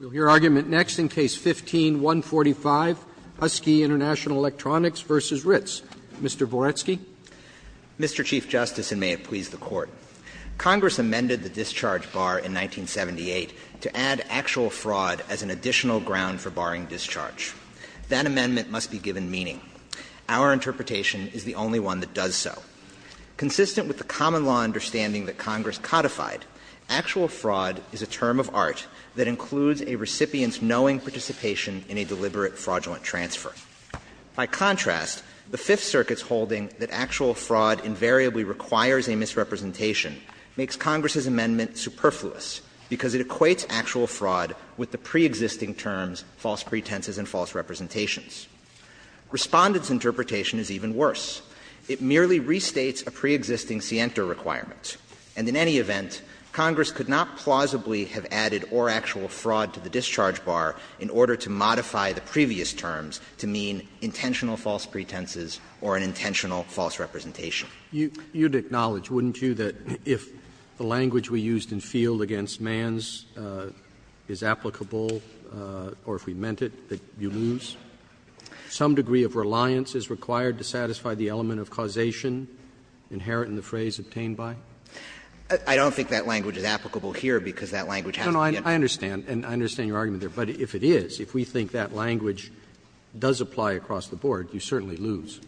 We'll hear argument next in Case No. 15-145, Husky Int'l Electronics v. Ritz. Mr. Boretsky. Mr. Chief Justice, and may it please the Court, Congress amended the discharge bar in 1978 to add actual fraud as an additional ground for barring discharge. That amendment must be given meaning. Our interpretation is the only one that does so. Consistent with the common law understanding that Congress codified, actual fraud is a term of art that includes a recipient's knowing participation in a deliberate fraudulent transfer. By contrast, the Fifth Circuit's holding that actual fraud invariably requires a misrepresentation makes Congress's amendment superfluous, because it equates actual fraud with the preexisting terms, false pretenses and false representations. Respondent's interpretation is even worse. It merely restates a preexisting scienter requirement, and in any event, Congress could not plausibly have added or actual fraud to the discharge bar in order to modify the previous terms to mean intentional false pretenses or an intentional false representation. Roberts. You'd acknowledge, wouldn't you, that if the language we used in Field against Manns is applicable, or if we meant it, that you lose some degree of reliance is required to satisfy the element of causation inherent in the phrase obtained by? I don't think that language is applicable here, because that language has to be in the field. Roberts. No, no, I understand, and I understand your argument there. But if it is, if we think that language does apply across the board, you certainly lose.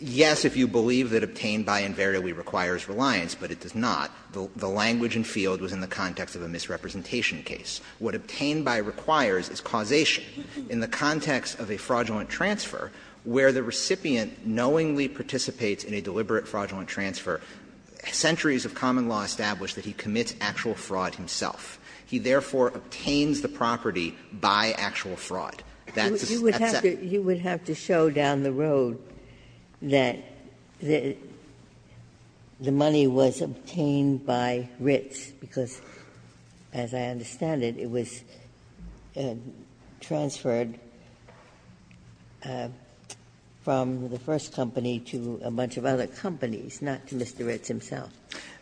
Yes, if you believe that obtained by invariably requires reliance, but it does not. The language in Field was in the context of a misrepresentation case. What obtained by requires is causation. In the context of a fraudulent transfer, where the recipient knowingly participates in a deliberate fraudulent transfer, centuries of common law establish that he commits actual fraud himself. He, therefore, obtains the property by actual fraud. That's a settlement. You would have to show down the road that the money was obtained by Ritz, because as I understand it, it was transferred from the first company to a bunch of other companies, not to Mr. Ritz himself.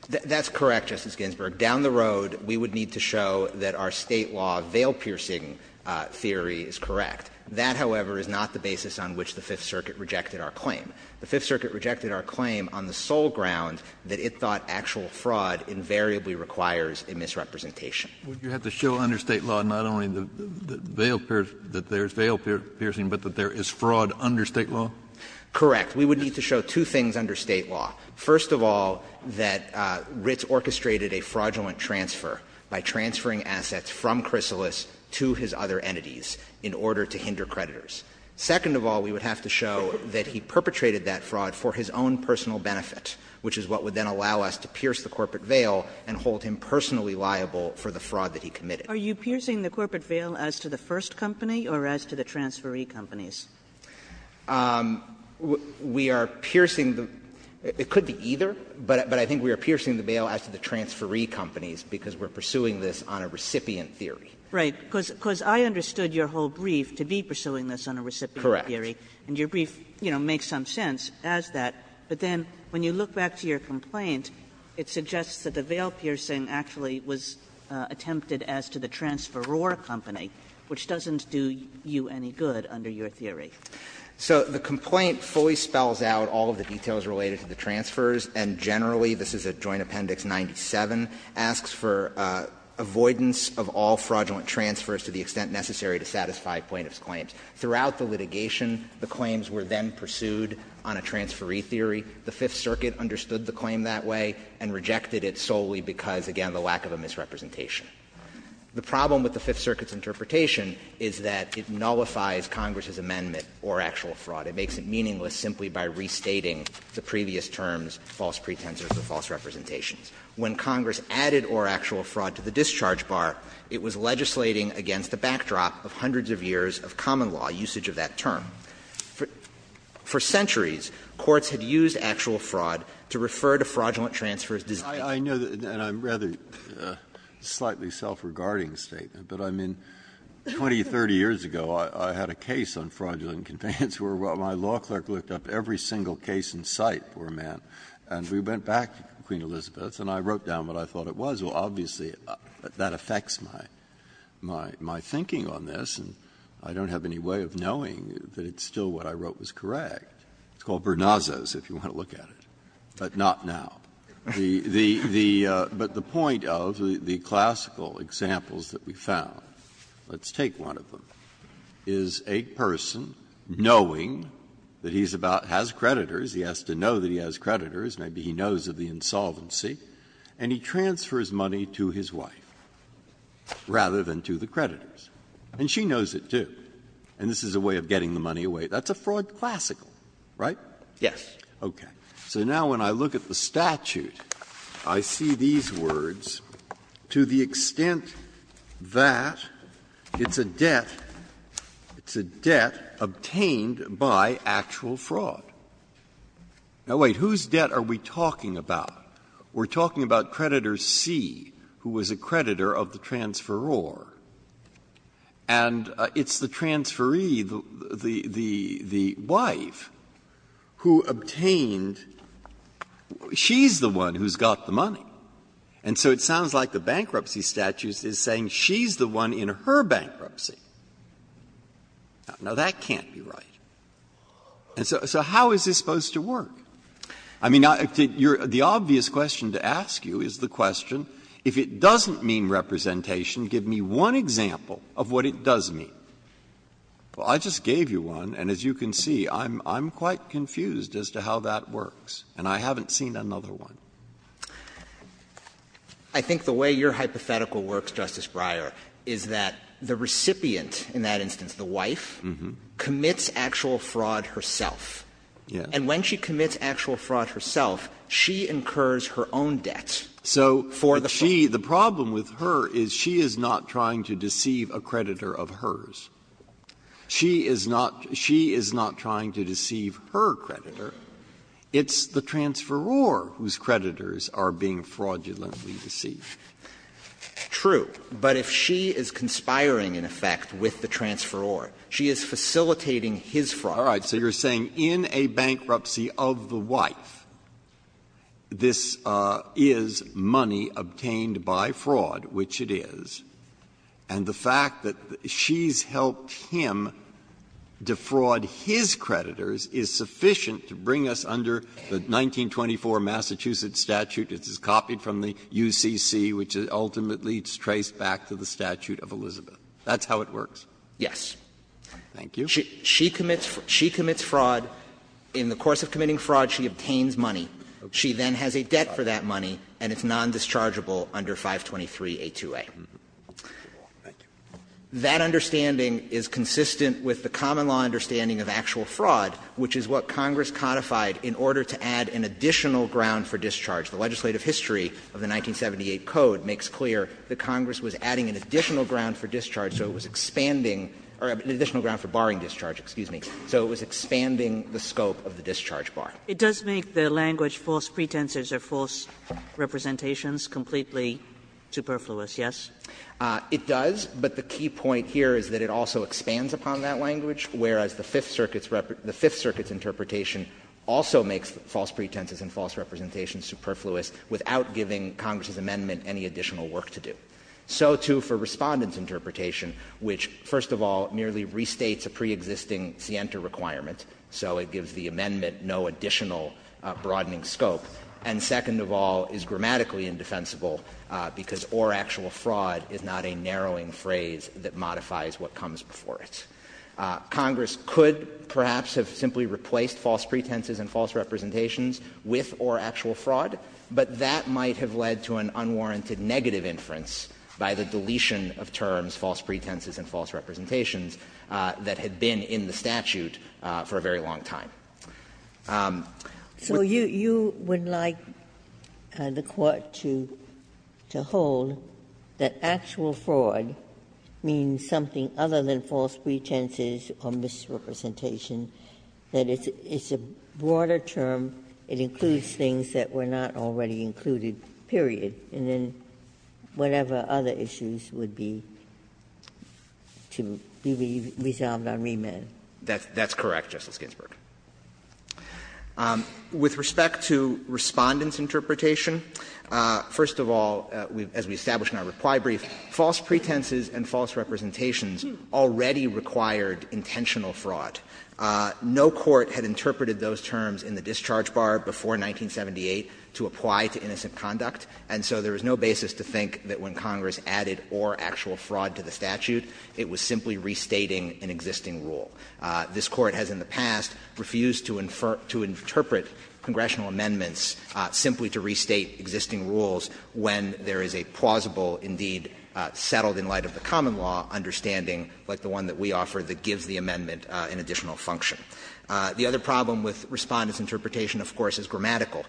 That's correct, Justice Ginsburg. Down the road, we would need to show that our State law veil-piercing theory is correct. That, however, is not the basis on which the Fifth Circuit rejected our claim. The Fifth Circuit rejected our claim on the sole ground that it thought actual fraud invariably requires a misrepresentation. Would you have to show under State law not only the veil-piercing, that there is veil-piercing, but that there is fraud under State law? Correct. We would need to show two things under State law. First of all, that Ritz orchestrated a fraudulent transfer by transferring assets from Chrysalis to his other entities in order to hinder creditors. Second of all, we would have to show that he perpetrated that fraud for his own personal benefit, which is what would then allow us to pierce the corporate veil and hold him personally liable for the fraud that he committed. Are you piercing the corporate veil as to the first company or as to the transferee companies? We are piercing the – it could be either, but I think we are piercing the veil as to the transferee companies because we are pursuing this on a recipient theory. Right. Because I understood your whole brief to be pursuing this on a recipient theory. Correct. And your brief, you know, makes some sense as that. But then when you look back to your complaint, it suggests that the veil-piercing actually was attempted as to the transferor company, which doesn't do you any good under your theory. So the complaint fully spells out all of the details related to the transfers, and generally, this is a Joint Appendix 97, asks for avoidance of all fraudulent transfers to the extent necessary to satisfy plaintiff's claims. Throughout the litigation, the claims were then pursued on a transferee theory. The Fifth Circuit understood the claim that way and rejected it solely because, again, the lack of a misrepresentation. The problem with the Fifth Circuit's interpretation is that it nullifies Congress's amendment, or actual fraud. It makes it meaningless simply by restating the previous terms, false pretensors or false representations. When Congress added or actual fraud to the discharge bar, it was legislating against the backdrop of hundreds of years of common law usage of that term. For centuries, courts had used actual fraud to refer to fraudulent transfers as discharges. Breyer. I know that, and I'm rather slightly self-regarding statement, but, I mean, 20, 30 years ago, I had a case on fraudulent conveyance where my law clerk looked up every single case in sight, poor man, and we went back to Queen Elizabeth and I wrote down what I thought it was. Well, obviously, that affects my thinking on this, and I don't have any way of knowing that it's still what I wrote was correct. It's called Bernazas, if you want to look at it, but not now. The point of the classical examples that we found, let's take one of them, is a person knowing that he has creditors, he has to know that he has creditors, maybe he knows of the insolvency, and he transfers money to his wife rather than to the creditors. And she knows it, too. And this is a way of getting the money away. That's a fraud classical, right? Yes. Okay. So now when I look at the statute, I see these words, to the extent that it's a debt obtained by actual fraud. Now, wait, whose debt are we talking about? We're talking about creditor C, who was a creditor of the transferor. And it's the transferee, the wife, who obtained the debt. She's the one who's got the money. And so it sounds like the bankruptcy statute is saying she's the one in her bankruptcy. Now, that can't be right. And so how is this supposed to work? I mean, the obvious question to ask you is the question, if it doesn't mean representation, give me one example of what it does mean. Well, I just gave you one, and as you can see, I'm quite confused as to how that works, and I haven't seen another one. I think the way your hypothetical works, Justice Breyer, is that the recipient, in that instance, the wife, commits actual fraud herself. Yes. And when she commits actual fraud herself, she incurs her own debt for the fraud. The problem with her is she is not trying to deceive a creditor of hers. She is not trying to deceive her creditor. It's the transferor whose creditors are being fraudulently deceived. True. But if she is conspiring, in effect, with the transferor, she is facilitating his fraud. Breyer, so you are saying in a bankruptcy of the wife, this is money obtained by fraud, which it is, and the fact that she's helped him defraud his creditors is sufficient to bring us under the 1924 Massachusetts statute, which is copied from the UCC, which ultimately is traced back to the statute of Elizabeth. That's how it works? Yes. Thank you. She commits fraud. In the course of committing fraud, she obtains money. She then has a debt for that money, and it's nondischargeable under 523a2a. That understanding is consistent with the common law understanding of actual fraud, which is what Congress codified in order to add an additional ground for discharge. The legislative history of the 1978 Code makes clear that Congress was adding an additional ground for discharge, so it was expanding or an additional ground for barring discharge, excuse me. So it was expanding the scope of the discharge bar. It does make the language false pretenses or false representations completely superfluous, yes? It does, but the key point here is that it also expands upon that language, whereas the Fifth Circuit's interpretation also makes false pretenses and false representations superfluous without giving Congress's amendment any additional work to do. So, too, for Respondent's interpretation, which, first of all, merely restates a preexisting scienter requirement, so it gives the amendment no additional broadening scope, and, second of all, is grammatically indefensible because or actual fraud is not a narrowing phrase that modifies what comes before it. Congress could, perhaps, have simply replaced false pretenses and false representations with or actual fraud, but that might have led to an unwarranted negative inference by the deletion of terms, false pretenses and false representations, that had been in the statute for a very long time. Ginsburg. So you would like the Court to hold that actual fraud means something other than it includes things that were not already included, period, and then whatever other issues would be to be resolved on remand? That's correct, Justice Ginsburg. With respect to Respondent's interpretation, first of all, as we established in our reply brief, false pretenses and false representations already required intentional fraud. No court had interpreted those terms in the discharge bar before 1978 to apply to innocent conduct, and so there was no basis to think that when Congress added or actual fraud to the statute, it was simply restating an existing rule. This Court has in the past refused to interpret congressional amendments simply to restate existing rules when there is a plausible, indeed, settled in light of the common law understanding like the one that we offer that gives the amendment an additional function. The other problem with Respondent's interpretation, of course, is grammatical,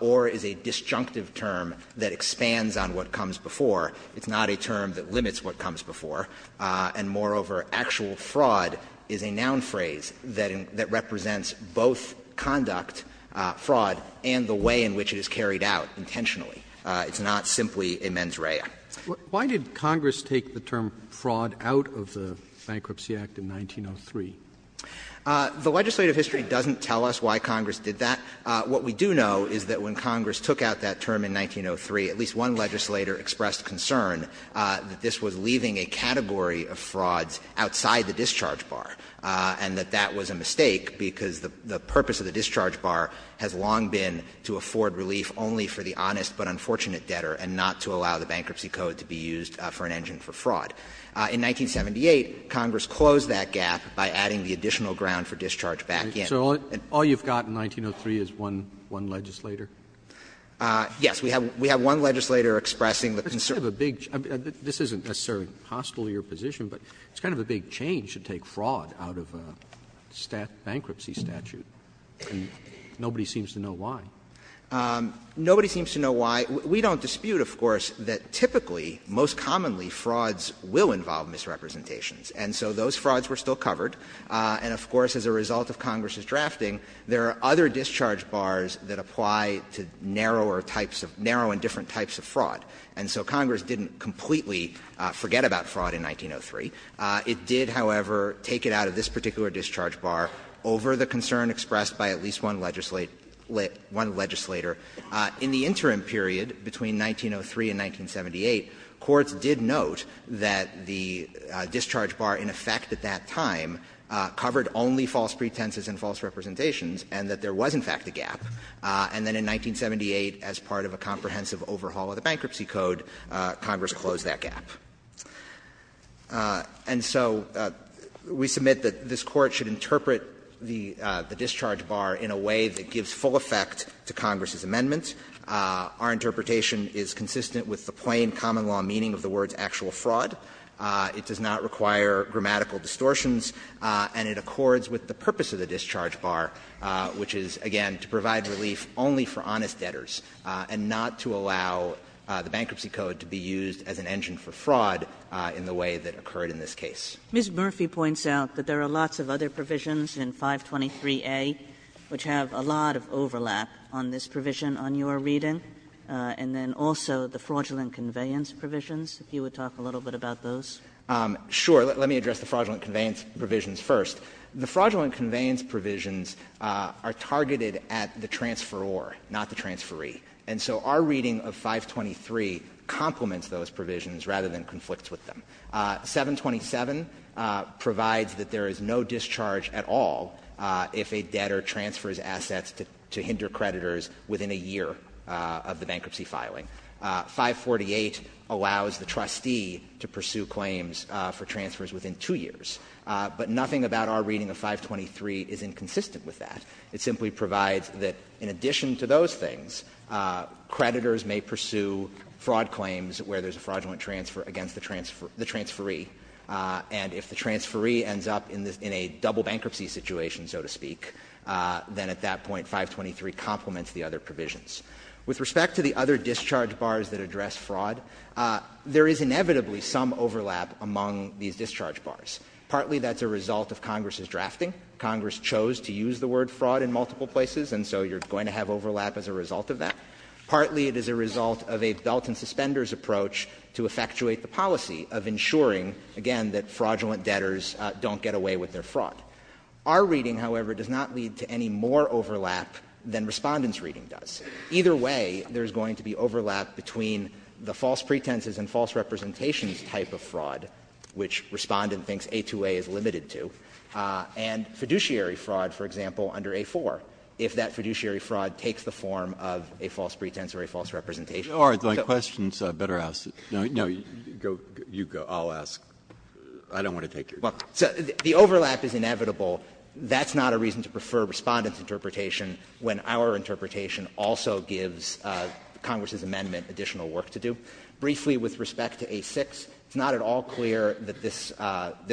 or is a disjunctive term that expands on what comes before. It's not a term that limits what comes before. And moreover, actual fraud is a noun phrase that represents both conduct, fraud, and the way in which it is carried out intentionally. It's not simply a mens rea. Roberts. Why did Congress take the term fraud out of the Bankruptcy Act in 1903? The legislative history doesn't tell us why Congress did that. What we do know is that when Congress took out that term in 1903 at least one legislator expressed concern that this was leaving a category of frauds outside the discharge bar, and that that was a mistake, because the purpose of the discharge bar has long been to afford relief only for the honest but unfortunate debtor and not to allow the bankruptcy code to be used for an engine for fraud. In 1978, Congress closed that gap by adding the additional ground for discharge back in. Roberts. So all you've got in 1903 is one legislator? Yes. We have one legislator expressing the concern. This is a big change. This isn't necessarily hostile to your position, but it's kind of a big change to take fraud out of a bankruptcy statute, and nobody seems to know why. Nobody seems to know why. We don't dispute, of course, that typically, most commonly, frauds will involve misrepresentations. And so those frauds were still covered. And of course, as a result of Congress's drafting, there are other discharge bars that apply to narrower types of — narrow and different types of fraud. And so Congress didn't completely forget about fraud in 1903. It did, however, take it out of this particular discharge bar over the concern expressed by at least one legislator. In the interim period between 1903 and 1978, courts did note that the discharge bar in effect at that time covered only false pretenses and false representations and that there was, in fact, a gap. And then in 1978, as part of a comprehensive overhaul of the Bankruptcy Code, Congress closed that gap. And so we submit that this Court should interpret the discharge bar in a way that gives full effect to Congress's amendment. Our interpretation is consistent with the plain common-law meaning of the words actual fraud. It does not require grammatical distortions, and it accords with the purpose of the discharge bar, which is, again, to provide relief only for honest debtors and not to allow the Bankruptcy Code to be used as an engine for fraud in the way that occurred in this case. Kagan. Ms. Murphy points out that there are lots of other provisions in 523A which have a lot of overlap on this provision on your reading, and then also the fraudulent conveyance provisions, if you would talk a little bit about those. Sure. Let me address the fraudulent conveyance provisions first. The fraudulent conveyance provisions are targeted at the transferor, not the transferee. And so our reading of 523 complements those provisions rather than conflicts with them. 727 provides that there is no discharge at all if a debtor transfers assets to hinder creditors within a year of the bankruptcy filing. 548 allows the trustee to pursue claims for transfers within two years. But nothing about our reading of 523 is inconsistent with that. It simply provides that in addition to those things, creditors may pursue fraud claims where there's a fraudulent transfer against the transferee, and if the transferee ends up in a double bankruptcy situation, so to speak, then at that point, 523 complements the other provisions. With respect to the other discharge bars that address fraud, there is inevitably some overlap among these discharge bars. Partly that's a result of Congress's drafting. Congress chose to use the word fraud in multiple places, and so you're going to have overlap as a result of that. Partly it is a result of a belt-and-suspenders approach to effectuate the policy of ensuring, again, that fraudulent debtors don't get away with their fraud. Our reading, however, does not lead to any more overlap than Respondent's reading does. Either way, there's going to be overlap between the false pretenses and false representations type of fraud, which Respondent thinks A2A is limited to, and fiduciary fraud, for example, is a false pretense or a false representation. Breyer, my question is better asked. No, no, you go, I'll ask. I don't want to take your time. The overlap is inevitable. That's not a reason to prefer Respondent's interpretation when our interpretation also gives Congress's amendment additional work to do. Briefly, with respect to A6, it's not at all clear that this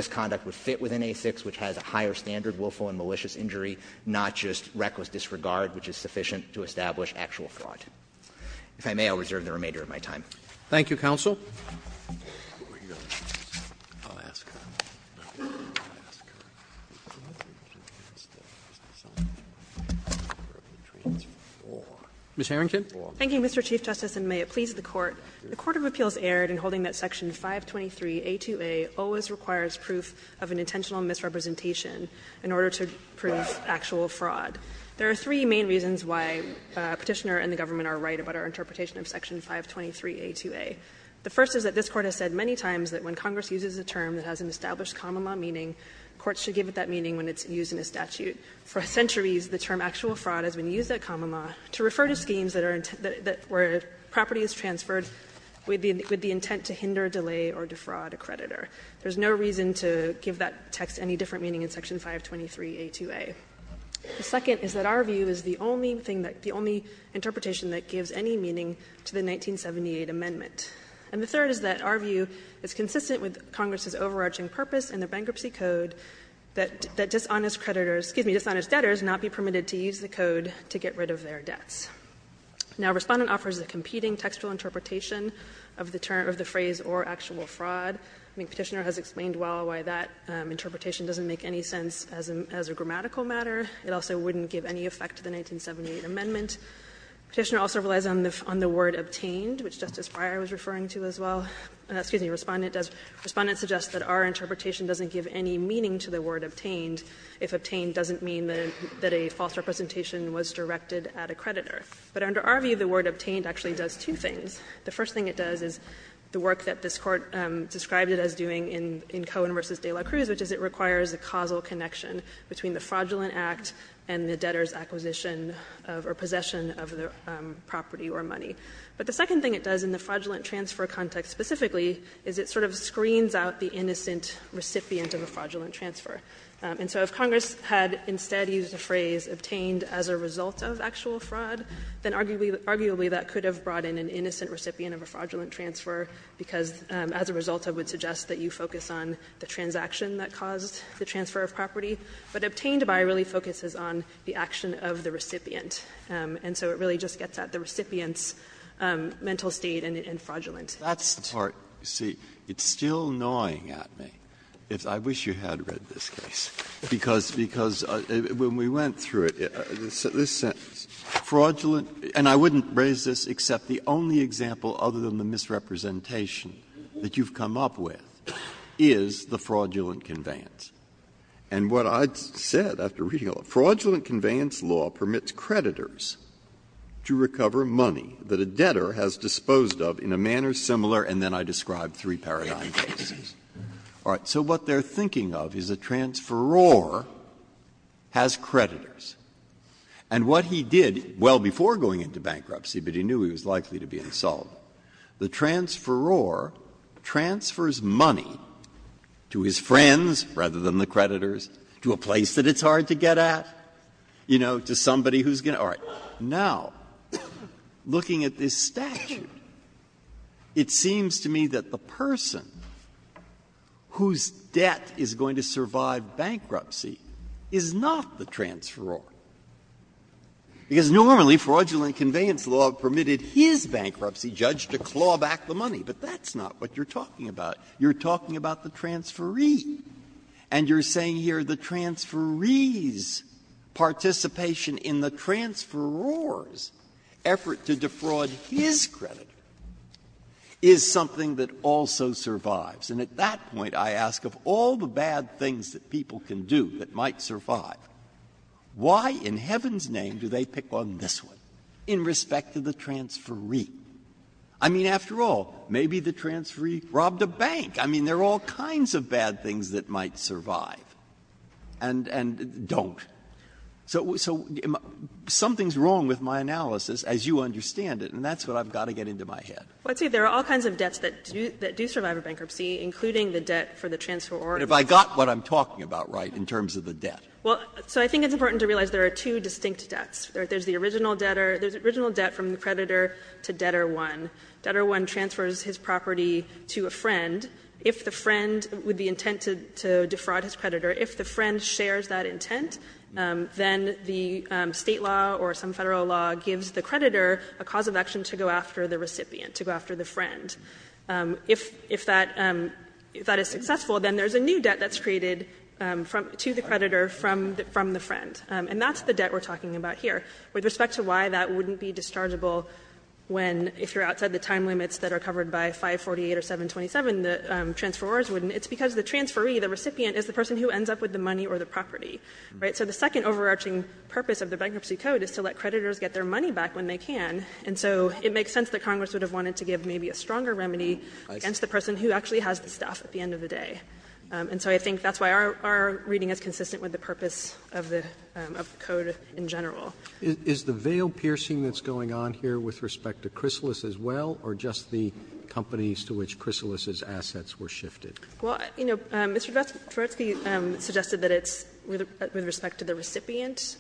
conduct would fit within A6, which has a higher standard willful and malicious injury, not just reckless disregard, which is sufficient to establish actual fraud. If I may, I'll reserve the remainder of my time. Roberts. Thank you, counsel. Ms. Harrington. Thank you, Mr. Chief Justice, and may it please the Court. The court of appeals erred in holding that section 523A2A always requires proof of an intentional misrepresentation in order to prove actual fraud. There are three main reasons why Petitioner and the government are right about our interpretation of section 523A2A. The first is that this Court has said many times that when Congress uses a term that has an established comma law meaning, courts should give it that meaning when it's used in a statute. For centuries, the term actual fraud has been used at comma law to refer to schemes that are intent to be, where property is transferred with the intent to hinder, delay, or defraud a creditor. There's no reason to give that text any different meaning in section 523A2A. The second is that our view is the only thing that the only interpretation that gives any meaning to the 1978 amendment. And the third is that our view is consistent with Congress's overarching purpose in the Bankruptcy Code that dishonest creditors, excuse me, dishonest debtors not be permitted to use the code to get rid of their debts. Now, Respondent offers a competing textual interpretation of the term, of the phrase or actual fraud. I mean, Petitioner has explained well why that interpretation doesn't make any sense as a grammatical matter. It also wouldn't give any effect to the 1978 amendment. Petitioner also relies on the word obtained, which Justice Breyer was referring to as well. Excuse me, Respondent does. Respondent suggests that our interpretation doesn't give any meaning to the word obtained if obtained doesn't mean that a false representation was directed at a creditor. But under our view, the word obtained actually does two things. The first thing it does is the work that this Court described it as doing in Cohen v. De La Cruz, which is it requires a causal connection between the fraudulent act and the debtor's acquisition of or possession of the property or money. But the second thing it does in the fraudulent transfer context specifically is it sort of screens out the innocent recipient of a fraudulent transfer. And so if Congress had instead used the phrase obtained as a result of actual fraud, then arguably that could have brought in an innocent recipient of a fraudulent transfer, because as a result, I would suggest that you focus on the transaction that caused the transfer of property. But obtained by really focuses on the action of the recipient. And so it really just gets at the recipient's mental state and fraudulent. Breyer, that's the part, you see, it's still gnawing at me. I wish you had read this case, because when we went through it, this sentence, fraudulent, and I wouldn't raise this except the only example other than the misrepresentation that you've come up with, is the fraudulent conveyance. And what I said after reading all of it, fraudulent conveyance law permits creditors to recover money that a debtor has disposed of in a manner similar, and then I described three paradigm cases. All right. So what they're thinking of is a transferor has creditors. And what he did well before going into bankruptcy, but he knew he was likely to be absolved, the transferor transfers money to his friends, rather than the creditors, to a place that it's hard to get at, you know, to somebody who's going to all right. Now, looking at this statute, it seems to me that the person whose debt is going to survive bankruptcy is not the transferor, because normally fraudulent conveyance law permitted his bankruptcy judge to claw back the money. But that's not what you're talking about. You're talking about the transferee. And you're saying here the transferee's participation in the transferor's effort to defraud his creditor is something that also survives. And at that point, I ask, of all the bad things that people can do that might survive, why in heaven's name do they pick on this one in respect to the transferee? I mean, after all, maybe the transferee robbed a bank. I mean, there are all kinds of bad things that might survive and don't. So something's wrong with my analysis, as you understand it, and that's what I've got to get into my head. Well, see, there are all kinds of debts that do survive a bankruptcy, including the debt for the transferor. But have I got what I'm talking about right in terms of the debt? Well, so I think it's important to realize there are two distinct debts. There's the original debtor. There's the original debt from the creditor to debtor 1. Debtor 1 transfers his property to a friend. If the friend, with the intent to defraud his creditor, if the friend shares that intent, then the State law or some Federal law gives the creditor a cause of action to go after the recipient, to go after the friend. If that is successful, then there's a new debt that's created to the creditor from the friend. And that's the debt we're talking about here. With respect to why that wouldn't be dischargeable when, if you're outside the time limits that are covered by 548 or 727, the transferors wouldn't, it's because the transferee, the recipient, is the person who ends up with the money or the property. So the second overarching purpose of the Bankruptcy Code is to let creditors get their money back when they can. And so it makes sense that Congress would have wanted to give maybe a stronger remedy against the person who actually has the stuff at the end of the day. And so I think that's why our reading is consistent with the purpose of the Code in general. Roberts, is the veil piercing that's going on here with respect to Chrysalis as well, or just the companies to which Chrysalis' assets were shifted? Well, you know, Mr. Dvoretsky suggested that it's with respect to the recipient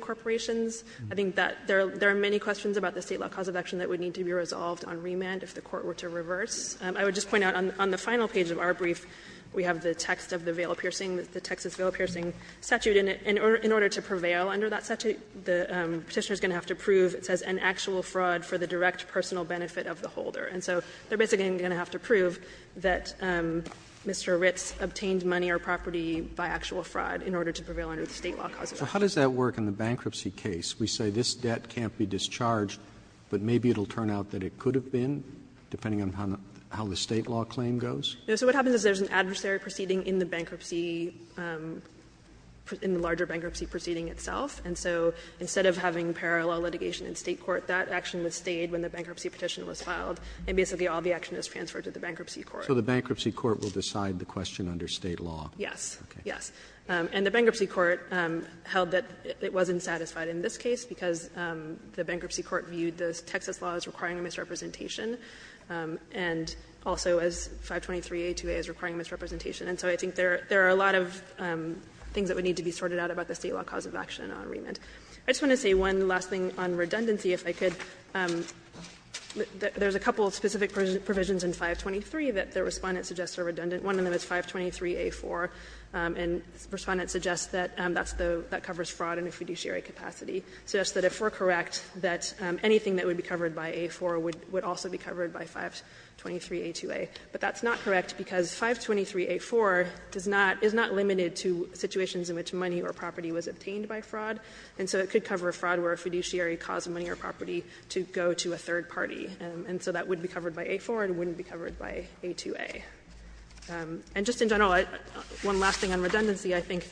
corporations. I think that there are many questions about the State law cause of action that would need to be resolved on remand if the Court were to reverse. I would just point out on the final page of our brief, we have the text of the veil piercing, the Texas veil piercing statute. And in order to prevail under that statute, the Petitioner is going to have to prove, it says, an actual fraud for the direct personal benefit of the holder. And so they're basically going to have to prove that Mr. Ritz obtained money or property by actual fraud in order to prevail under the State law cause of action. Roberts, so how does that work in the bankruptcy case? We say this debt can't be discharged, but maybe it will turn out that it could have turned in, depending on how the State law claim goes? So what happens is there's an adversary proceeding in the bankruptcy, in the larger bankruptcy proceeding itself. And so instead of having parallel litigation in State court, that action was stayed when the bankruptcy petition was filed, and basically all the action is transferred to the bankruptcy court. So the bankruptcy court will decide the question under State law? Yes. Yes. And the bankruptcy court held that it wasn't satisfied in this case because the bankruptcy court viewed the Texas law as requiring a misrepresentation, and also as 523a2a as requiring a misrepresentation. And so I think there are a lot of things that would need to be sorted out about the State law cause of action on remand. I just want to say one last thing on redundancy, if I could. There's a couple of specific provisions in 523 that the Respondent suggests are redundant. One of them is 523a4, and Respondent suggests that that's the one that covers fraud in a fiduciary capacity. It suggests that if we're correct, that anything that would be covered by a4 would also be covered by 523a2a. But that's not correct, because 523a4 does not, is not limited to situations in which money or property was obtained by fraud, and so it could cover a fraud where a fiduciary caused money or property to go to a third party. And so that would be covered by a4, and it wouldn't be covered by a2a. And just in general, one last thing on redundancy, I think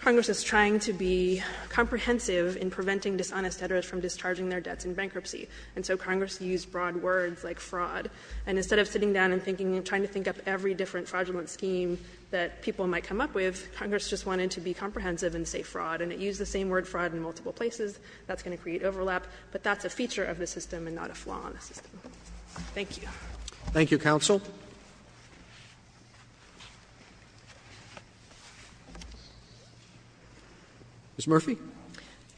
Congress is trying to be And so Congress used broad words like fraud, and instead of sitting down and thinking and trying to think up every different fraudulent scheme that people might come up with, Congress just wanted to be comprehensive and say fraud. And it used the same word, fraud, in multiple places. That's going to create overlap, but that's a feature of the system and not a flaw in the system. Thank you. Roberts. Thank you, counsel. Ms. Murphy. Murphy.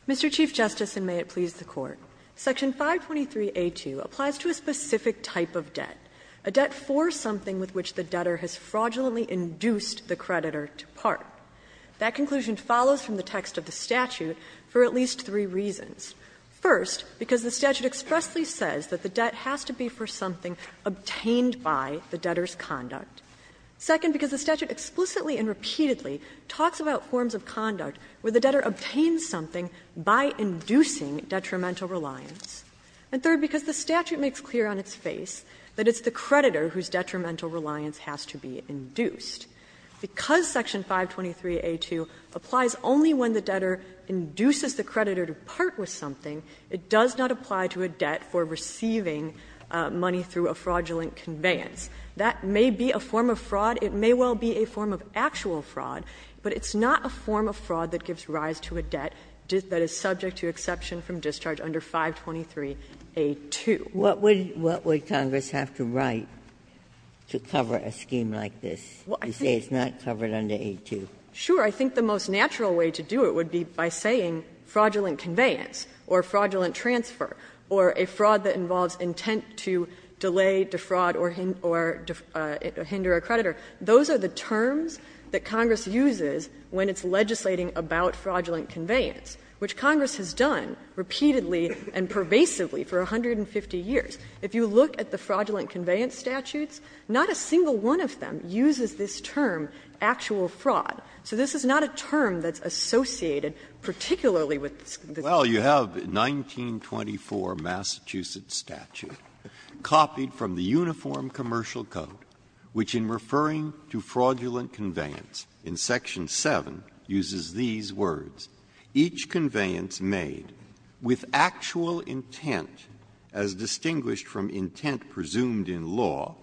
Mr. Chief Justice, and may it please the Court, section 523a2 applies to a specific type of debt, a debt for something with which the debtor has fraudulently induced the creditor to part. That conclusion follows from the text of the statute for at least three reasons. First, because the statute expressly says that the debt has to be for something obtained by the debtor's conduct. Second, because the statute explicitly and repeatedly talks about forms of conduct where the debtor obtains something by inducing detrimental reliance. And third, because the statute makes clear on its face that it's the creditor whose detrimental reliance has to be induced. Because section 523a2 applies only when the debtor induces the creditor to part with something, it does not apply to a debt for receiving money through a fraudulent conveyance. That may be a form of fraud. It may well be a form of actual fraud, but it's not a form of fraud that gives rise to a debt that is subject to exception from discharge under 523a2. Ginsburg. What would Congress have to write to cover a scheme like this to say it's not covered under a2? Sure. I think the most natural way to do it would be by saying fraudulent conveyance or fraudulent transfer or a fraud that involves intent to delay, defraud or hinder a creditor, those are the terms that Congress uses when it's legislating about fraudulent conveyance, which Congress has done repeatedly and pervasively for 150 years. If you look at the fraudulent conveyance statutes, not a single one of them uses this term, actual fraud. So this is not a term that's associated particularly with the scheme. Breyer. Well, you have 1924 Massachusetts statute copied from the Uniform Commercial Code, which in referring to fraudulent conveyance, in section 7, uses these words. Each conveyance made with actual intent as distinguished from intent presumed in law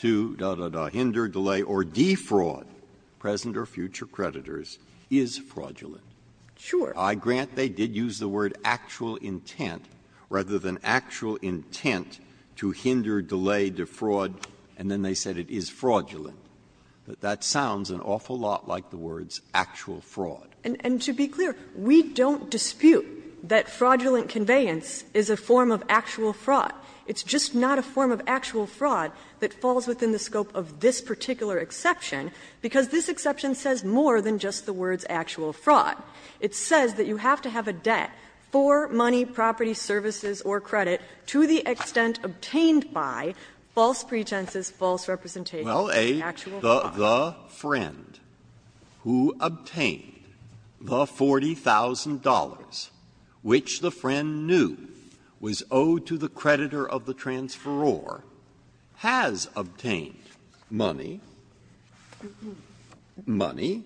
to, dah, dah, dah, hinder, delay or defraud present or future creditors is fraudulent. Sure. I grant they did use the word actual intent rather than actual intent to hinder, delay, defraud, and then they said it is fraudulent, but that sounds an awful lot like the words actual fraud. And to be clear, we don't dispute that fraudulent conveyance is a form of actual fraud. It's just not a form of actual fraud that falls within the scope of this particular exception, because this exception says more than just the words actual fraud. It says that you have to have a debt for money, property, services or credit to the creditor to justify false pretenses, false representations of actual fraud. Breyer, The friend who obtained the $40,000 which the friend knew was owed to the creditor of the transferor has obtained money, money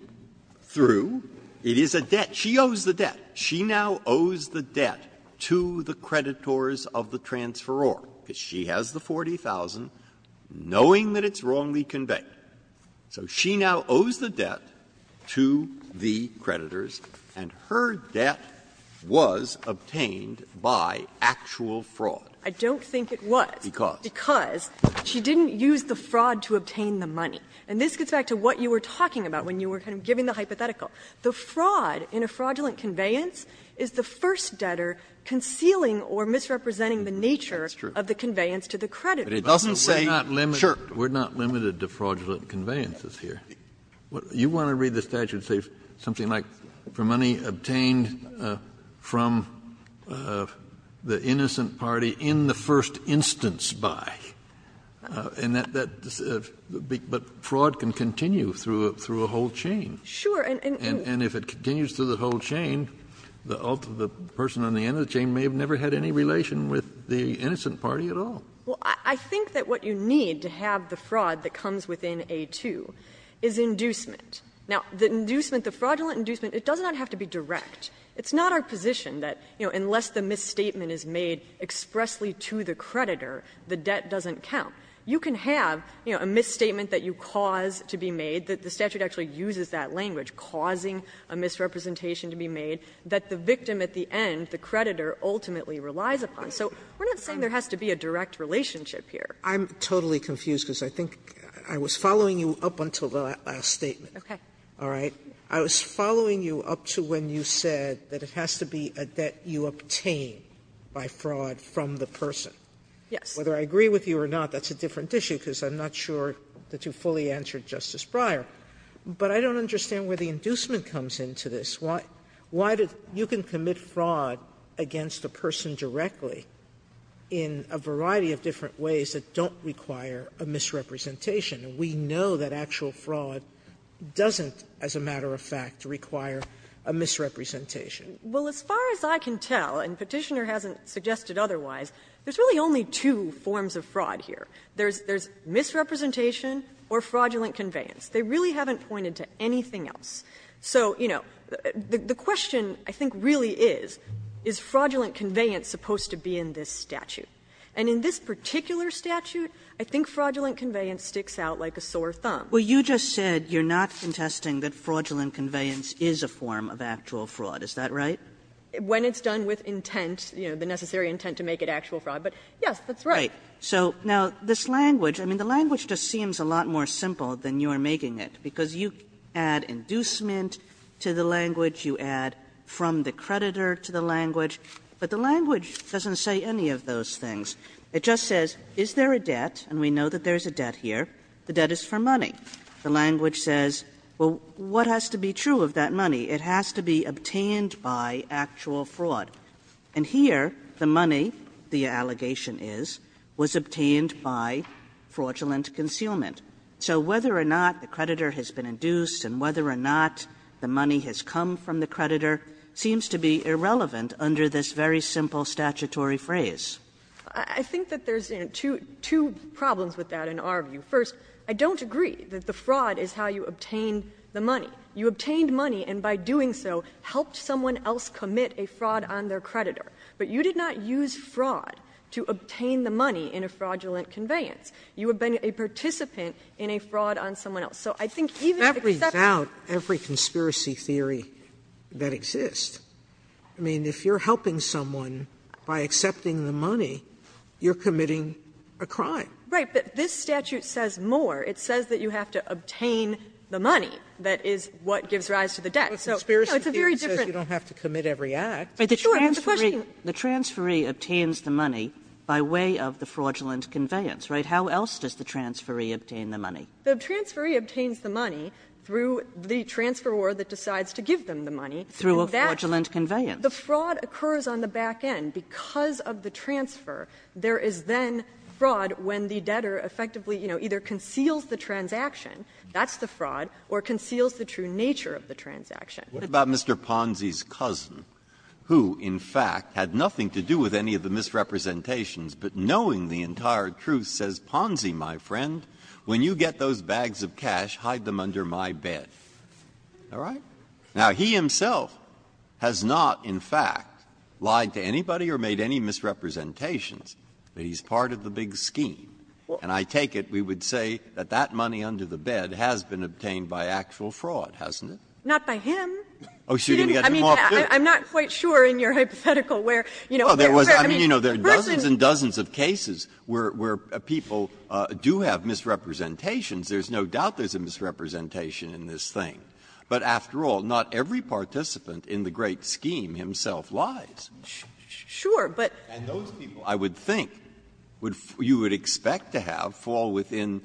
through, it is a debt, she owes the debt. She now owes the debt to the creditors of the transferor, because she has the $40,000 knowing that it's wrongly conveyed. So she now owes the debt to the creditors, and her debt was obtained by actual fraud. I don't think it was. Because? Because she didn't use the fraud to obtain the money. And this gets back to what you were talking about when you were kind of giving the hypothetical. The fraud in a fraudulent conveyance is the first debtor concealing or misrepresenting the nature of the conveyance to the creditor. It doesn't say, sure. Kennedy, We're not limited to fraudulent conveyances here. You want to read the statute and say something like, for money obtained from the innocent party in the first instance by, but fraud can continue through a whole chain. And if it continues through the whole chain, the person on the end of the chain may have never had any relation with the innocent party at all. Well, I think that what you need to have the fraud that comes within A-2 is inducement. Now, the inducement, the fraudulent inducement, it does not have to be direct. It's not our position that, you know, unless the misstatement is made expressly to the creditor, the debt doesn't count. You can have, you know, a misstatement that you cause to be made, that the statute actually uses that language, causing a misrepresentation to be made, that the victim at the end, the creditor, ultimately relies upon. So we're not saying there has to be a direct relationship here. Sotomayor, I'm totally confused, because I think I was following you up until the last statement. Okay. All right? I was following you up to when you said that it has to be a debt you obtain by fraud from the person. Yes. Whether I agree with you or not, that's a different issue, because I'm not sure that you fully answered Justice Breyer. But I don't understand where the inducement comes into this. Why did you can commit fraud against a person directly in a variety of different ways that don't require a misrepresentation? And we know that actual fraud doesn't, as a matter of fact, require a misrepresentation. Well, as far as I can tell, and Petitioner hasn't suggested otherwise, there's really only two forms of fraud here. There's misrepresentation or fraudulent conveyance. They really haven't pointed to anything else. So, you know, the question I think really is, is fraudulent conveyance supposed to be in this statute? And in this particular statute, I think fraudulent conveyance sticks out like a sore thumb. Well, you just said you're not contesting that fraudulent conveyance is a form of actual fraud. Is that right? When it's done with intent, you know, the necessary intent to make it actual fraud. But, yes, that's right. Right. So, now, this language, I mean, the language just seems a lot more simple than you are making it, because you add inducement to the language, you add from the creditor to the language, but the language doesn't say any of those things. It just says, is there a debt, and we know that there's a debt here, the debt is for money. The language says, well, what has to be true of that money? It has to be obtained by actual fraud. And here, the money, the allegation is, was obtained by fraudulent concealment. So whether or not the creditor has been induced and whether or not the money has come from the creditor seems to be irrelevant under this very simple statutory phrase. I think that there's, you know, two problems with that in our view. First, I don't agree that the fraud is how you obtained the money. You obtained money, and by doing so, helped someone else commit a fraud on their creditor. But you did not use fraud to obtain the money in a fraudulent conveyance. You have been a participant in a fraud on someone else. So I think even excepting the money is not how you obtained the money. Sotomayor, that brings out every conspiracy theory that exists. I mean, if you're helping someone by accepting the money, you're committing a crime. Right. But this statute says more. It says that you have to obtain the money that is what gives rise to the debt. So, you know, it's a very different. Sotomayor, it's a conspiracy theory that says you don't have to commit every act. Sure, but the question is, the transferee obtains the money by way of the fraudulent conveyance, right? How else does the transferee obtain the money? The transferee obtains the money through the transferor that decides to give them the money. Through a fraudulent conveyance. The fraud occurs on the back end. Because of the transfer, there is then fraud when the debtor effectively, you know, either conceals the transaction, that's the fraud, or conceals the true nature of the transaction. Breyer. What about Mr. Ponzi's cousin, who, in fact, had nothing to do with any of the misrepresentations, but knowing the entire truth says, Ponzi, my friend, when you get those bags of cash, hide them under my bed. All right? Now, he himself has not, in fact, lied to anybody or made any misrepresentations, but he's part of the big scheme. And I take it we would say that that money under the bed has been obtained by actual fraud, hasn't it? Not by him. Oh, so you're going to get more proof. I'm not quite sure in your hypothetical where, you know, where, I mean, the person Oh, there was, I mean, you know, there are dozens and dozens of cases where people do have misrepresentations. There's no doubt there's a misrepresentation in this thing. But after all, not every participant in the great scheme himself lies. Sure, but. And those people, I would think, you would expect to have fall within,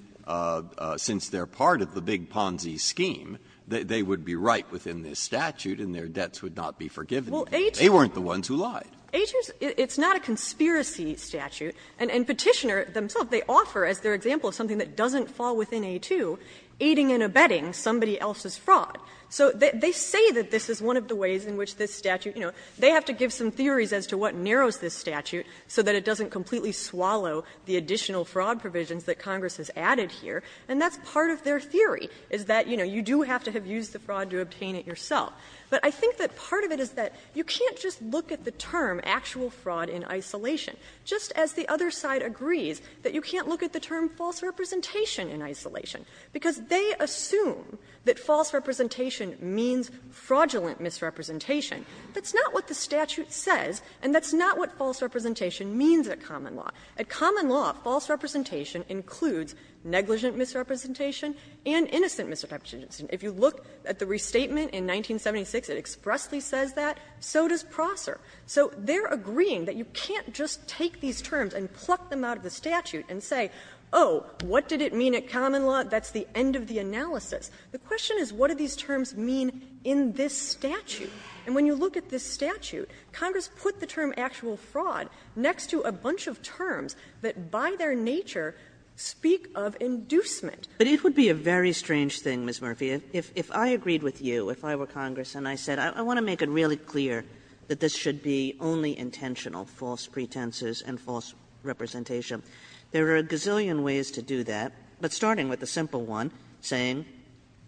since they're part of the big Ponzi scheme, they would be right within this statute and their debts would not be forgiven. They weren't the ones who lied. Well, A2, A2, it's not a conspiracy statute. And Petitioner themselves, they offer as their example something that doesn't fall within A2, aiding and abetting somebody else's fraud. So they say that this is one of the ways in which this statute, you know, they have to give some theories as to what narrows this statute so that it doesn't completely swallow the additional fraud provisions that Congress has added here, and that's part of their theory, is that, you know, you do have to have used the fraud to obtain it yourself. But I think that part of it is that you can't just look at the term actual fraud in isolation, just as the other side agrees that you can't look at the term false representation in isolation, because they assume that false representation means fraudulent misrepresentation. That's not what the statute says, and that's not what false representation means at common law. At common law, false representation includes negligent misrepresentation and innocent misrepresentation. If you look at the restatement in 1976, it expressly says that. So does Prosser. So they're agreeing that you can't just take these terms and pluck them out of the statute and say, oh, what did it mean at common law? That's the end of the analysis. The question is, what do these terms mean in this statute? And when you look at this statute, Congress put the term actual fraud next to a bunch of terms that by their nature speak of inducement. Kagan. But it would be a very strange thing, Ms. Murphy, if I agreed with you, if I were Congress, and I said I want to make it really clear that this should be only intentional false pretenses and false representation. There are a gazillion ways to do that, but starting with the simple one, saying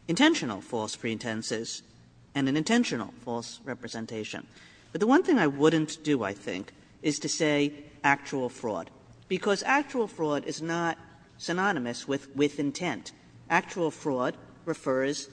intentional false pretenses and an intentional false representation. But the one thing I wouldn't do, I think, is to say actual fraud, because actual fraud is not synonymous with intent. Actual fraud refers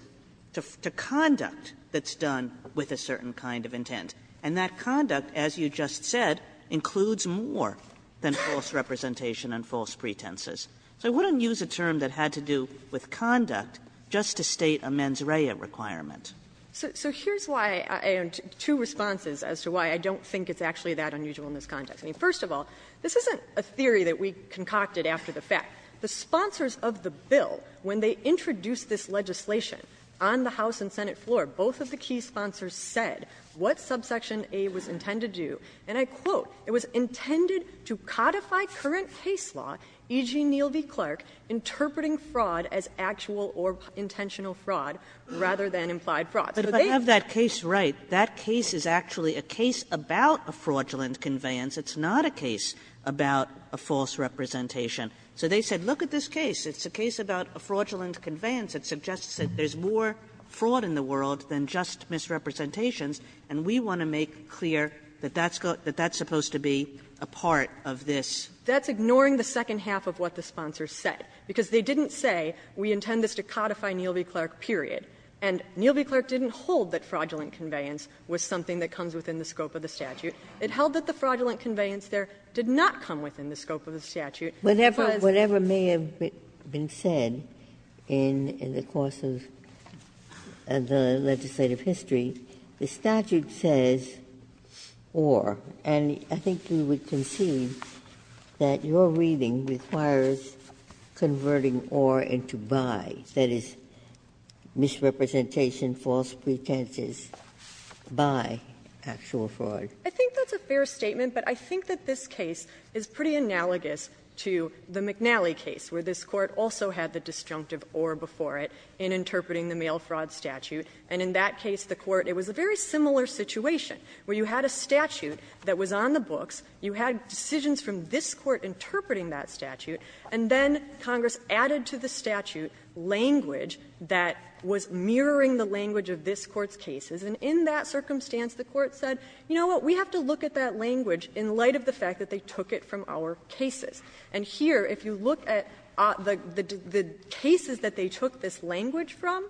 to conduct that's done with a certain kind of intent. And that conduct, as you just said, includes more than false representation and false pretenses. So I wouldn't use a term that had to do with conduct just to state a mens rea requirement. So here's why I have two responses as to why I don't think it's actually that unusual in this context. I mean, first of all, this isn't a theory that we concocted after the fact. The sponsors of the bill, when they introduced this legislation on the House and Senate floor, both of the key sponsors said what subsection A was intended to do. And they said, look, if I have that case right, that case is actually a case about a fraudulent conveyance. It's not a case about a false representation. So they said, look at this case. It's a case about a fraudulent conveyance that suggests that there's more fraud in the world than just misrepresentations, and we want to make clear that that's supposed to be a part of this. That's ignoring the second clause. And that's one-half of what the sponsors said, because they didn't say, we intend this to codify Neal v. Clark, period. And Neal v. Clark didn't hold that fraudulent conveyance was something that comes within the scope of the statute. It held that the fraudulent conveyance there did not come within the scope of the statute. It was the case that there's more fraud in the world than just misrepresentations, and we want to make clear that that's not a case about a false representation. Ginsburg, it requires converting or into by, that is, misrepresentation, false pretenses, by actual fraud. I think that's a fair statement, but I think that this case is pretty analogous to the McNally case, where this Court also had the disjunctive or before it in interpreting the mail fraud statute. And in that case, the Court, it was a very similar situation, where you had a statute that was on the books. You had decisions from this Court interpreting that statute, and then Congress added to the statute language that was mirroring the language of this Court's cases. And in that circumstance, the Court said, you know what, we have to look at that language in light of the fact that they took it from our cases. And here, if you look at the cases that they took this language from,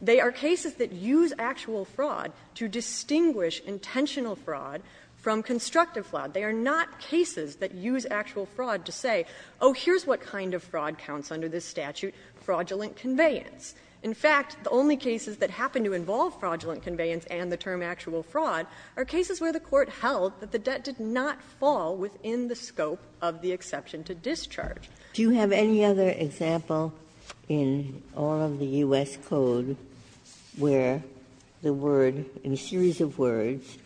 they are cases that use actual fraud to distinguish intentional fraud from constructive fraud. They are not cases that use actual fraud to say, oh, here's what kind of fraud counts under this statute, fraudulent conveyance. In fact, the only cases that happen to involve fraudulent conveyance and the term actual fraud are cases where the Court held that the debt did not fall within the scope of the exception to discharge. Ginsburg, do you have any other example in all of the U.S. Code where the word, in a series of words,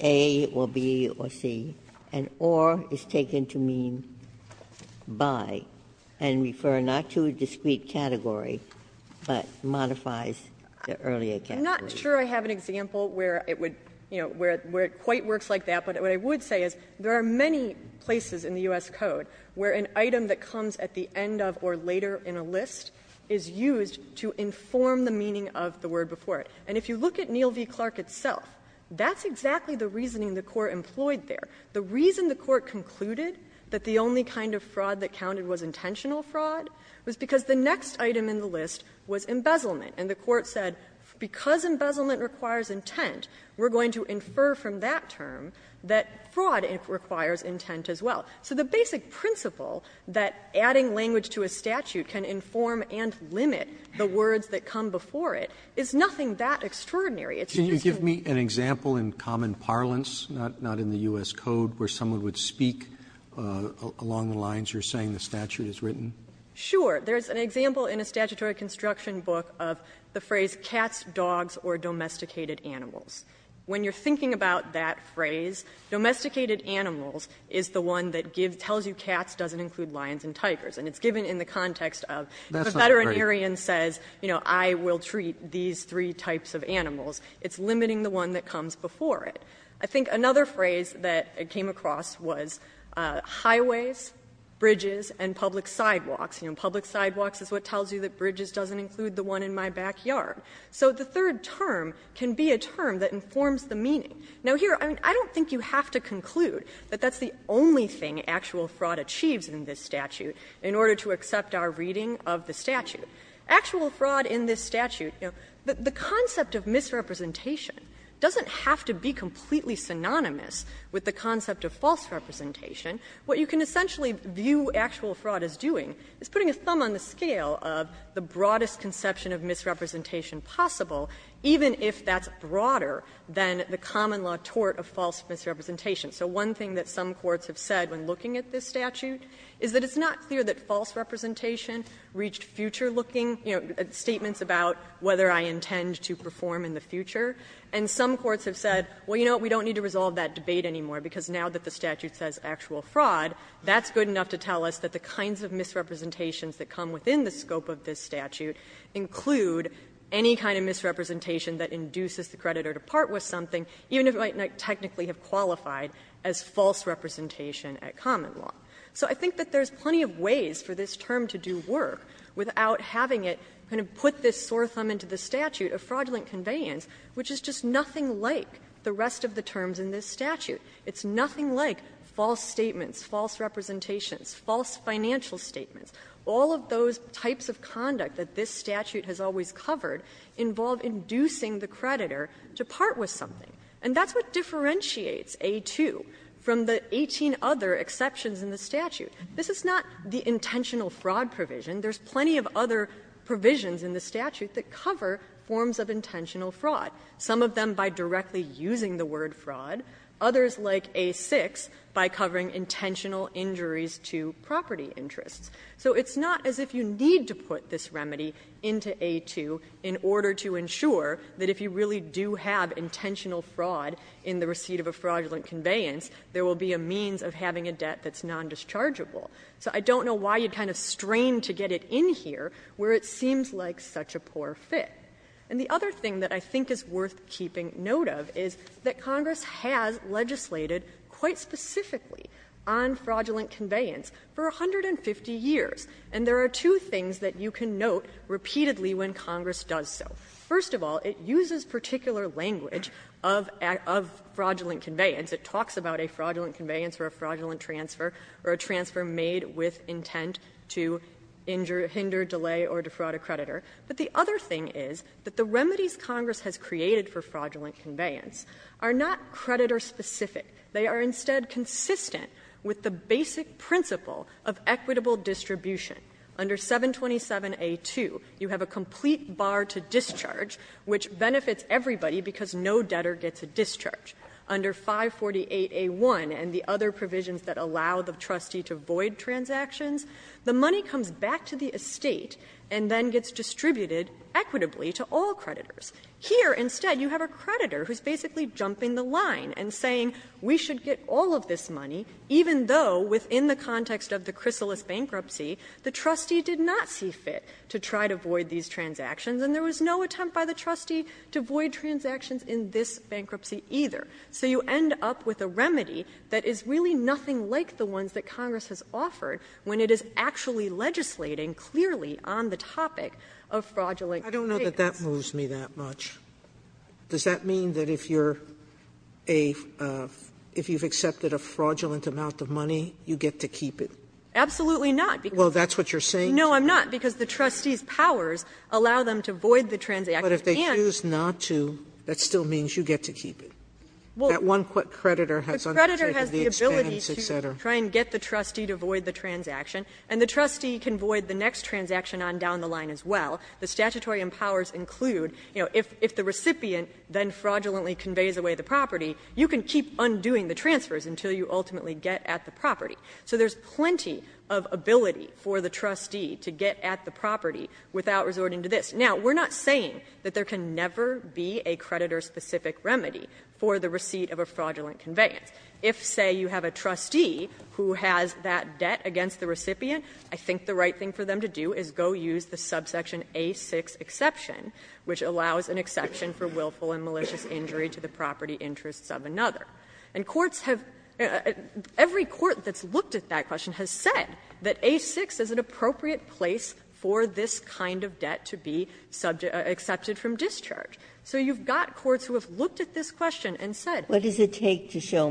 A or B or C, and or is taken to mean by, and refer not to a discrete category, but modifies the earlier category? I'm not sure I have an example where it would, you know, where it quite works like that, but what I would say is there are many places in the U.S. Code where an item that comes at the end of or later in a list is used to inform the meaning of the word before it. And if you look at Neal v. Clark itself, that's exactly the reasoning the Court employed there. The reason the Court concluded that the only kind of fraud that counted was intentional fraud was because the next item in the list was embezzlement. And the Court said, because embezzlement requires intent, we're going to infer from that term that fraud requires intent as well. So the basic principle that adding language to a statute can inform and limit the It's not extraordinary. It's just an example in common parlance, not in the U.S. Code, where someone would speak along the lines you're saying the statute is written. Sure. There's an example in a statutory construction book of the phrase cats, dogs, or domesticated animals. When you're thinking about that phrase, domesticated animals is the one that tells you cats doesn't include lions and tigers. And it's given in the context of if a veterinarian says, you know, I will treat these three types of animals, it's limiting the one that comes before it. I think another phrase that it came across was highways, bridges, and public sidewalks. You know, public sidewalks is what tells you that bridges doesn't include the one in my backyard. So the third term can be a term that informs the meaning. Now, here, I don't think you have to conclude that that's the only thing actual fraud achieves in this statute in order to accept our reading of the statute. Actual fraud in this statute, you know, the concept of misrepresentation doesn't have to be completely synonymous with the concept of false representation. What you can essentially view actual fraud as doing is putting a thumb on the scale of the broadest conception of misrepresentation possible, even if that's broader than the common law tort of false misrepresentation. So one thing that some courts have said when looking at this statute is that it's not clear that false representation reached future-looking, you know, statements about whether I intend to perform in the future. And some courts have said, well, you know what, we don't need to resolve that debate anymore, because now that the statute says actual fraud, that's good enough to tell us that the kinds of misrepresentations that come within the scope of this statute include any kind of misrepresentation that induces the creditor to part with something, even if it might not technically have qualified as false representation at common law. So I think that there's plenty of ways for this term to do work without having it kind of put this sore thumb into the statute of fraudulent conveyance, which is just nothing like the rest of the terms in this statute. It's nothing like false statements, false representations, false financial statements. All of those types of conduct that this statute has always covered involve inducing the creditor to part with something. And that's what differentiates A-2 from the 18 other exceptions in the statute. This is not the intentional fraud provision. There's plenty of other provisions in the statute that cover forms of intentional fraud, some of them by directly using the word fraud, others like A-6 by covering intentional injuries to property interests. So it's not as if you need to put this remedy into A-2 in order to ensure that if you really do have intentional fraud in the receipt of a fraudulent conveyance, there will be a means of having a debt that's nondischargeable. So I don't know why you'd kind of strain to get it in here where it seems like such a poor fit. And the other thing that I think is worth keeping note of is that Congress has legislated quite specifically on fraudulent conveyance for 150 years. And there are two things that you can note repeatedly when Congress does so. First of all, it uses particular language of fraudulent conveyance. It talks about a fraudulent conveyance or a fraudulent transfer or a transfer made with intent to hinder, delay, or defraud a creditor. But the other thing is that the remedies Congress has created for fraudulent conveyance are not creditor-specific. They are instead consistent with the basic principle of equitable distribution. Under 727A-2, you have a complete bar to discharge, which benefits everybody because no debtor gets a discharge. Under 548A-1 and the other provisions that allow the trustee to void transactions, the money comes back to the estate and then gets distributed equitably to all creditors. Here, instead, you have a creditor who's basically jumping the line and saying, we should get all of this money, even though within the context of the Chrysalis bankruptcy, the trustee did not see fit to try to void these transactions. And there was no attempt by the trustee to void transactions in this bankruptcy either. So you end up with a remedy that is really nothing like the ones that Congress has offered when it is actually legislating clearly on the topic of fraudulent conveyance. Sotomayor, I don't know that that moves me that much. Does that mean that if you're a — if you've accepted a fraudulent amount of money, you get to keep it? Absolutely not. Well, that's what you're saying? No, I'm not, because the trustee's powers allow them to void the transaction and to keep it. But if they choose not to, that still means you get to keep it. Well, that one creditor has undertaken the expense, et cetera. The creditor has the ability to try and get the trustee to void the transaction, and the trustee can void the next transaction on down the line as well. The statutory empowers include, you know, if the recipient then fraudulently conveys away the property, you can keep undoing the transfers until you ultimately get at the property. So there's plenty of ability for the trustee to get at the property without resorting to this. Now, we're not saying that there can never be a creditor-specific remedy for the receipt of a fraudulent conveyance. If, say, you have a trustee who has that debt against the recipient, I think the right thing for them to do is go use the subsection A6 exception, which allows an exception for willful and malicious injury to the property interests of another. And courts have — every court that's looked at that question has said that A6 is an appropriate place for this kind of debt to be subject — accepted from discharge. So you've got courts who have looked at this question and said — Ginsburg. What does it take to show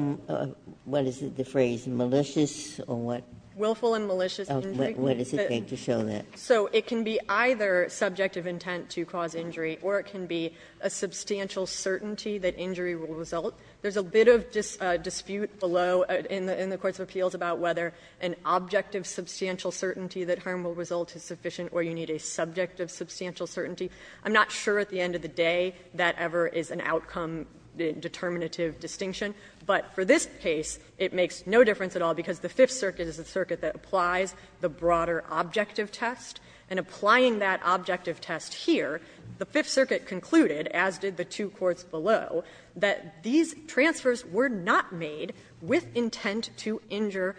— what is it, the phrase? Malicious or what? Willful and malicious injury? What does it take to show that? So it can be either subjective intent to cause injury, or it can be a substantial certainty that injury will result. There's a bit of dispute below in the courts of appeals about whether an objective substantial certainty that harm will result is sufficient or you need a subjective substantial certainty. I'm not sure at the end of the day that ever is an outcome determinative distinction. But for this case, it makes no difference at all because the Fifth Circuit is a circuit that applies the broader objective test, and applying that objective test here, the These transfers were not made with intent to injure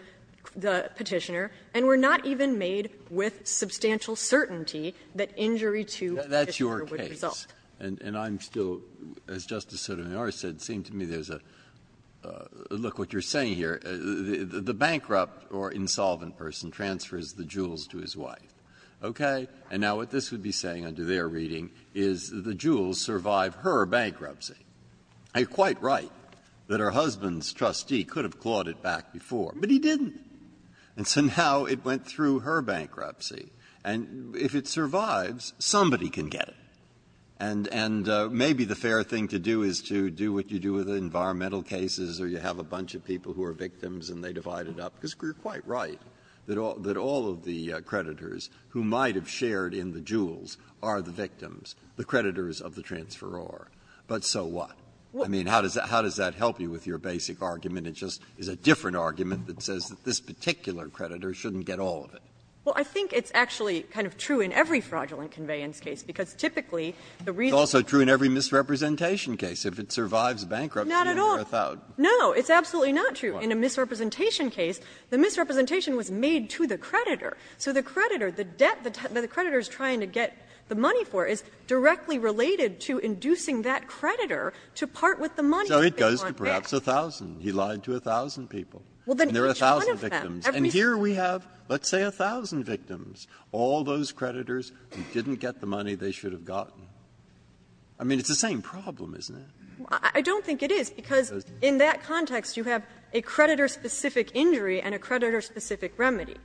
the Petitioner and were not even made with substantial certainty that injury to the Petitioner would result. Breyer. That's your case. And I'm still — as Justice Sotomayor said, it seemed to me there's a — look what you're saying here. The bankrupt or insolvent person transfers the jewels to his wife, okay? And now what this would be saying under their reading is the jewels survive her bankruptcy. And you're quite right that her husband's trustee could have clawed it back before, but he didn't. And so now it went through her bankruptcy. And if it survives, somebody can get it. And maybe the fair thing to do is to do what you do with environmental cases, or you have a bunch of people who are victims and they divide it up, because you're quite right that all of the creditors who might have shared in the jewels are the victims, the creditors of the transferor. But so what? I mean, how does that help you with your basic argument? It just is a different argument that says that this particular creditor shouldn't get all of it. Well, I think it's actually kind of true in every fraudulent conveyance case, because typically the reason why the creditor is trying to get the money for is directly related to inducing the creditors to pay for the jewels. It's absolutely not true in a misrepresentation case. The misrepresentation was made to the creditor. So the creditor, the debt that the creditor is trying to get the money for is directly related to inducing that creditor to part with the money that they want back. So it goes to perhaps 1,000. He lied to 1,000 people. And there are 1,000 victims. And here we have, let's say, 1,000 victims, all those creditors who didn't get the money they should have gotten. I mean, it's the same problem, isn't it? I don't think it is, because in that context you have a creditor-specific injury and a creditor-specific remedy.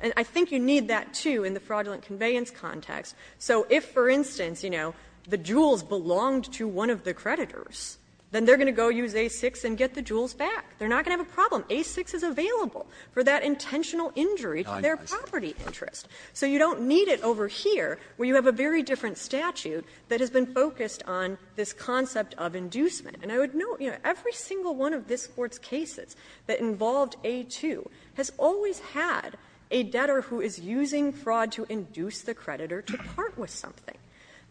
And I think you need that, too, in the fraudulent conveyance context. So if, for instance, you know, the jewels belonged to one of the creditors, then they're going to go use A6 and get the jewels back. They're not going to have a problem. A6 is available for that intentional injury to their property interest. So you don't need it over here, where you have a very different statute that has been focused on this concept of inducement. And I would note, you know, every single one of this Court's cases that involved A2 has always had a debtor who is using fraud to induce the creditor to part with something.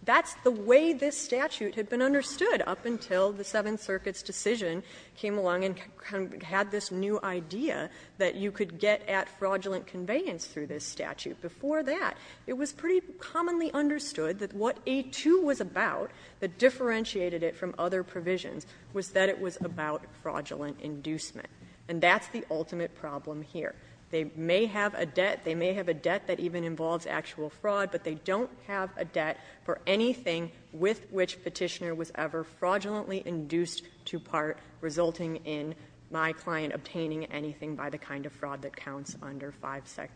That's the way this statute had been understood up until the Seventh Circuit's decision came along and kind of had this new idea that you could get at fraudulent conveyance through this statute. Before that, it was pretty commonly understood that what A2 was about, that differentiated it from other provisions, was that it was about fraudulent inducement. And that's the ultimate problem here. They may have a debt. They may have a debt that even involves actual fraud, but they don't have a debt for anything with which Petitioner was ever fraudulently induced to part, resulting in my client obtaining anything by the kind of fraud that counts under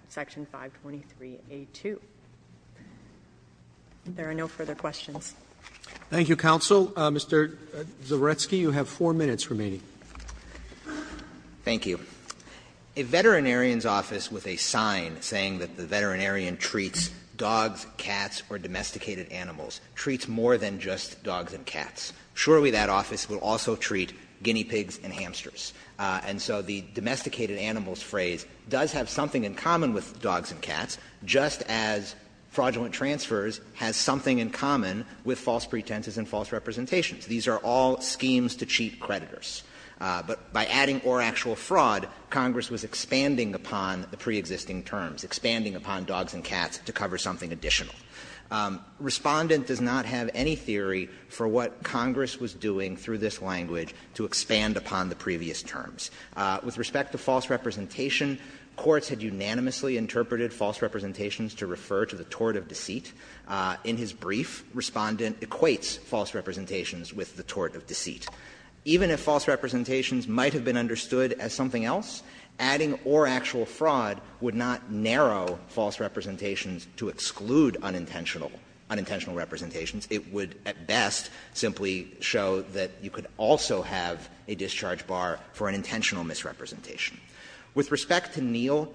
Section 523A2. If there are no further questions. Roberts. Thank you, counsel. Mr. Zawiercki, you have four minutes remaining. Thank you. A veterinarian's office with a sign saying that the veterinarian treats dogs, cats, or domesticated animals treats more than just dogs and cats. Surely that office will also treat guinea pigs and hamsters. And so the domesticated animals phrase does have something in common with dogs and cats, just as fraudulent transfers has something in common with false pretenses and false representations. These are all schemes to cheat creditors. But by adding or actual fraud, Congress was expanding upon the preexisting terms, expanding upon dogs and cats to cover something additional. Respondent does not have any theory for what Congress was doing through this language to expand upon the previous terms. With respect to false representation, courts had unanimously interpreted false representations to refer to the tort of deceit. In his brief, Respondent equates false representations with the tort of deceit. Even if false representations might have been understood as something else, adding or actual fraud would not narrow false representations to exclude unintentional representations. It would at best simply show that you could also have a discharge bar for an intentional misrepresentation. With respect to Neel,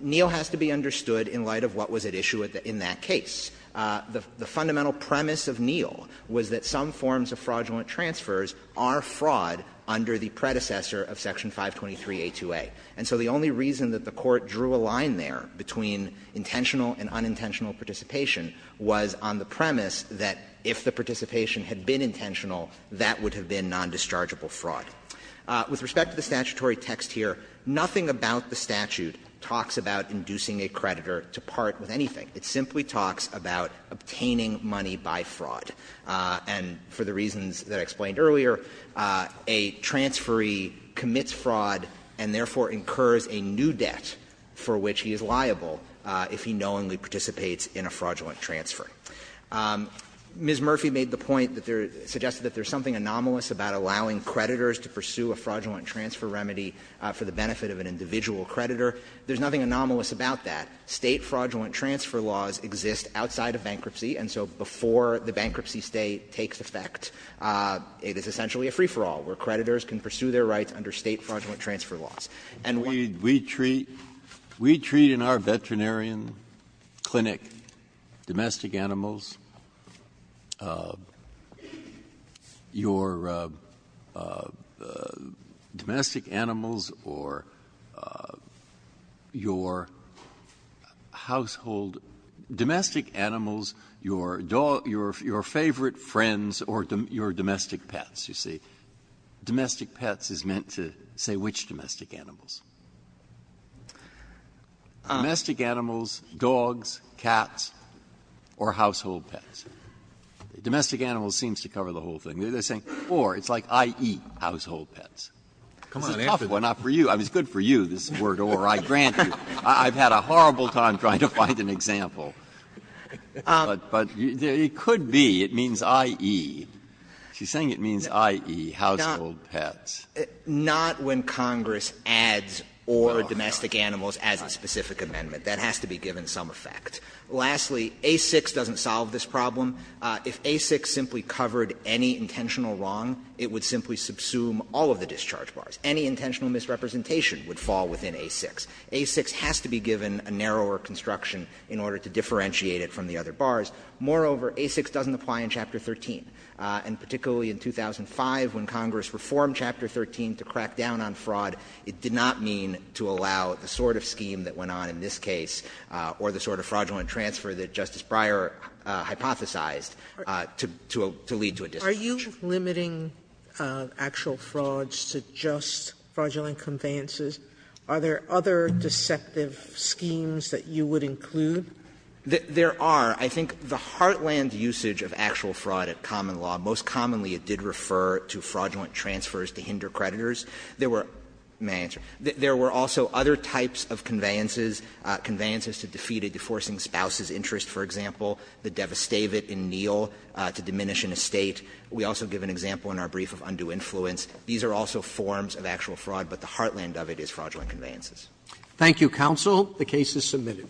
Neel has to be understood in light of what was at issue in that case. The fundamental premise of Neel was that some forms of fraudulent transfers are fraud under the predecessor of Section 523a2a. And so the only reason that the Court drew a line there between intentional and unintentional participation was on the premise that if the participation had been intentional, that would have been nondischargeable fraud. With respect to the statutory text here, nothing about the statute talks about inducing a creditor to part with anything. It simply talks about obtaining money by fraud. And for the reasons that I explained earlier, a transferee commits fraud and therefore incurs a new debt for which he is liable if he knowingly participates in a fraudulent transfer. Ms. Murphy made the point that there are – suggested that there is something anomalous about allowing creditors to pursue a fraudulent transfer remedy for the benefit of an individual creditor. There is nothing anomalous about that. State fraudulent transfer laws exist outside of bankruptcy, and so before the bankruptcy state takes effect, it is essentially a free-for-all, where creditors can pursue their rights under State fraudulent transfer laws. And we treat – we treat in our veterinarian clinic domestic animals, your domestic animals, or your household – domestic animals, your dog – your favorite friends or your domestic pets, you see. Domestic pets is meant to say which domestic animals? Domestic animals, dogs, cats, or household pets. Domestic animals seems to cover the whole thing. They're saying, or, it's like, I eat household pets. This is tough. Well, not for you. It's good for you, this word, or. I grant you. I've had a horrible time trying to find an example. But it could be. It means, i.e., she's saying it means, i.e., household pets. Not when Congress adds or domestic animals as a specific amendment. That has to be given some effect. Lastly, A6 doesn't solve this problem. If A6 simply covered any intentional wrong, it would simply subsume all of the discharge bars. Any intentional misrepresentation would fall within A6. A6 has to be given a narrower construction in order to differentiate it from the other bars. Moreover, A6 doesn't apply in Chapter 13. And particularly in 2005, when Congress reformed Chapter 13 to crack down on fraud, it did not mean to allow the sort of scheme that went on in this case or the sort of fraudulent transfer that Justice Breyer hypothesized to lead to a discharge. Sotomayor, are you limiting actual frauds to just fraudulent conveyances? Are there other deceptive schemes that you would include? There are. I think the heartland usage of actual fraud at common law, most commonly it did refer to fraudulent transfers to hinder creditors. There were also other types of conveyances, conveyances to defeat a deforestation spouse's interest, for example, the devastavit in Neal to diminish an estate. We also give an example in our brief of undue influence. These are also forms of actual fraud, but the heartland of it is fraudulent conveyances. Thank you, counsel. The case is submitted.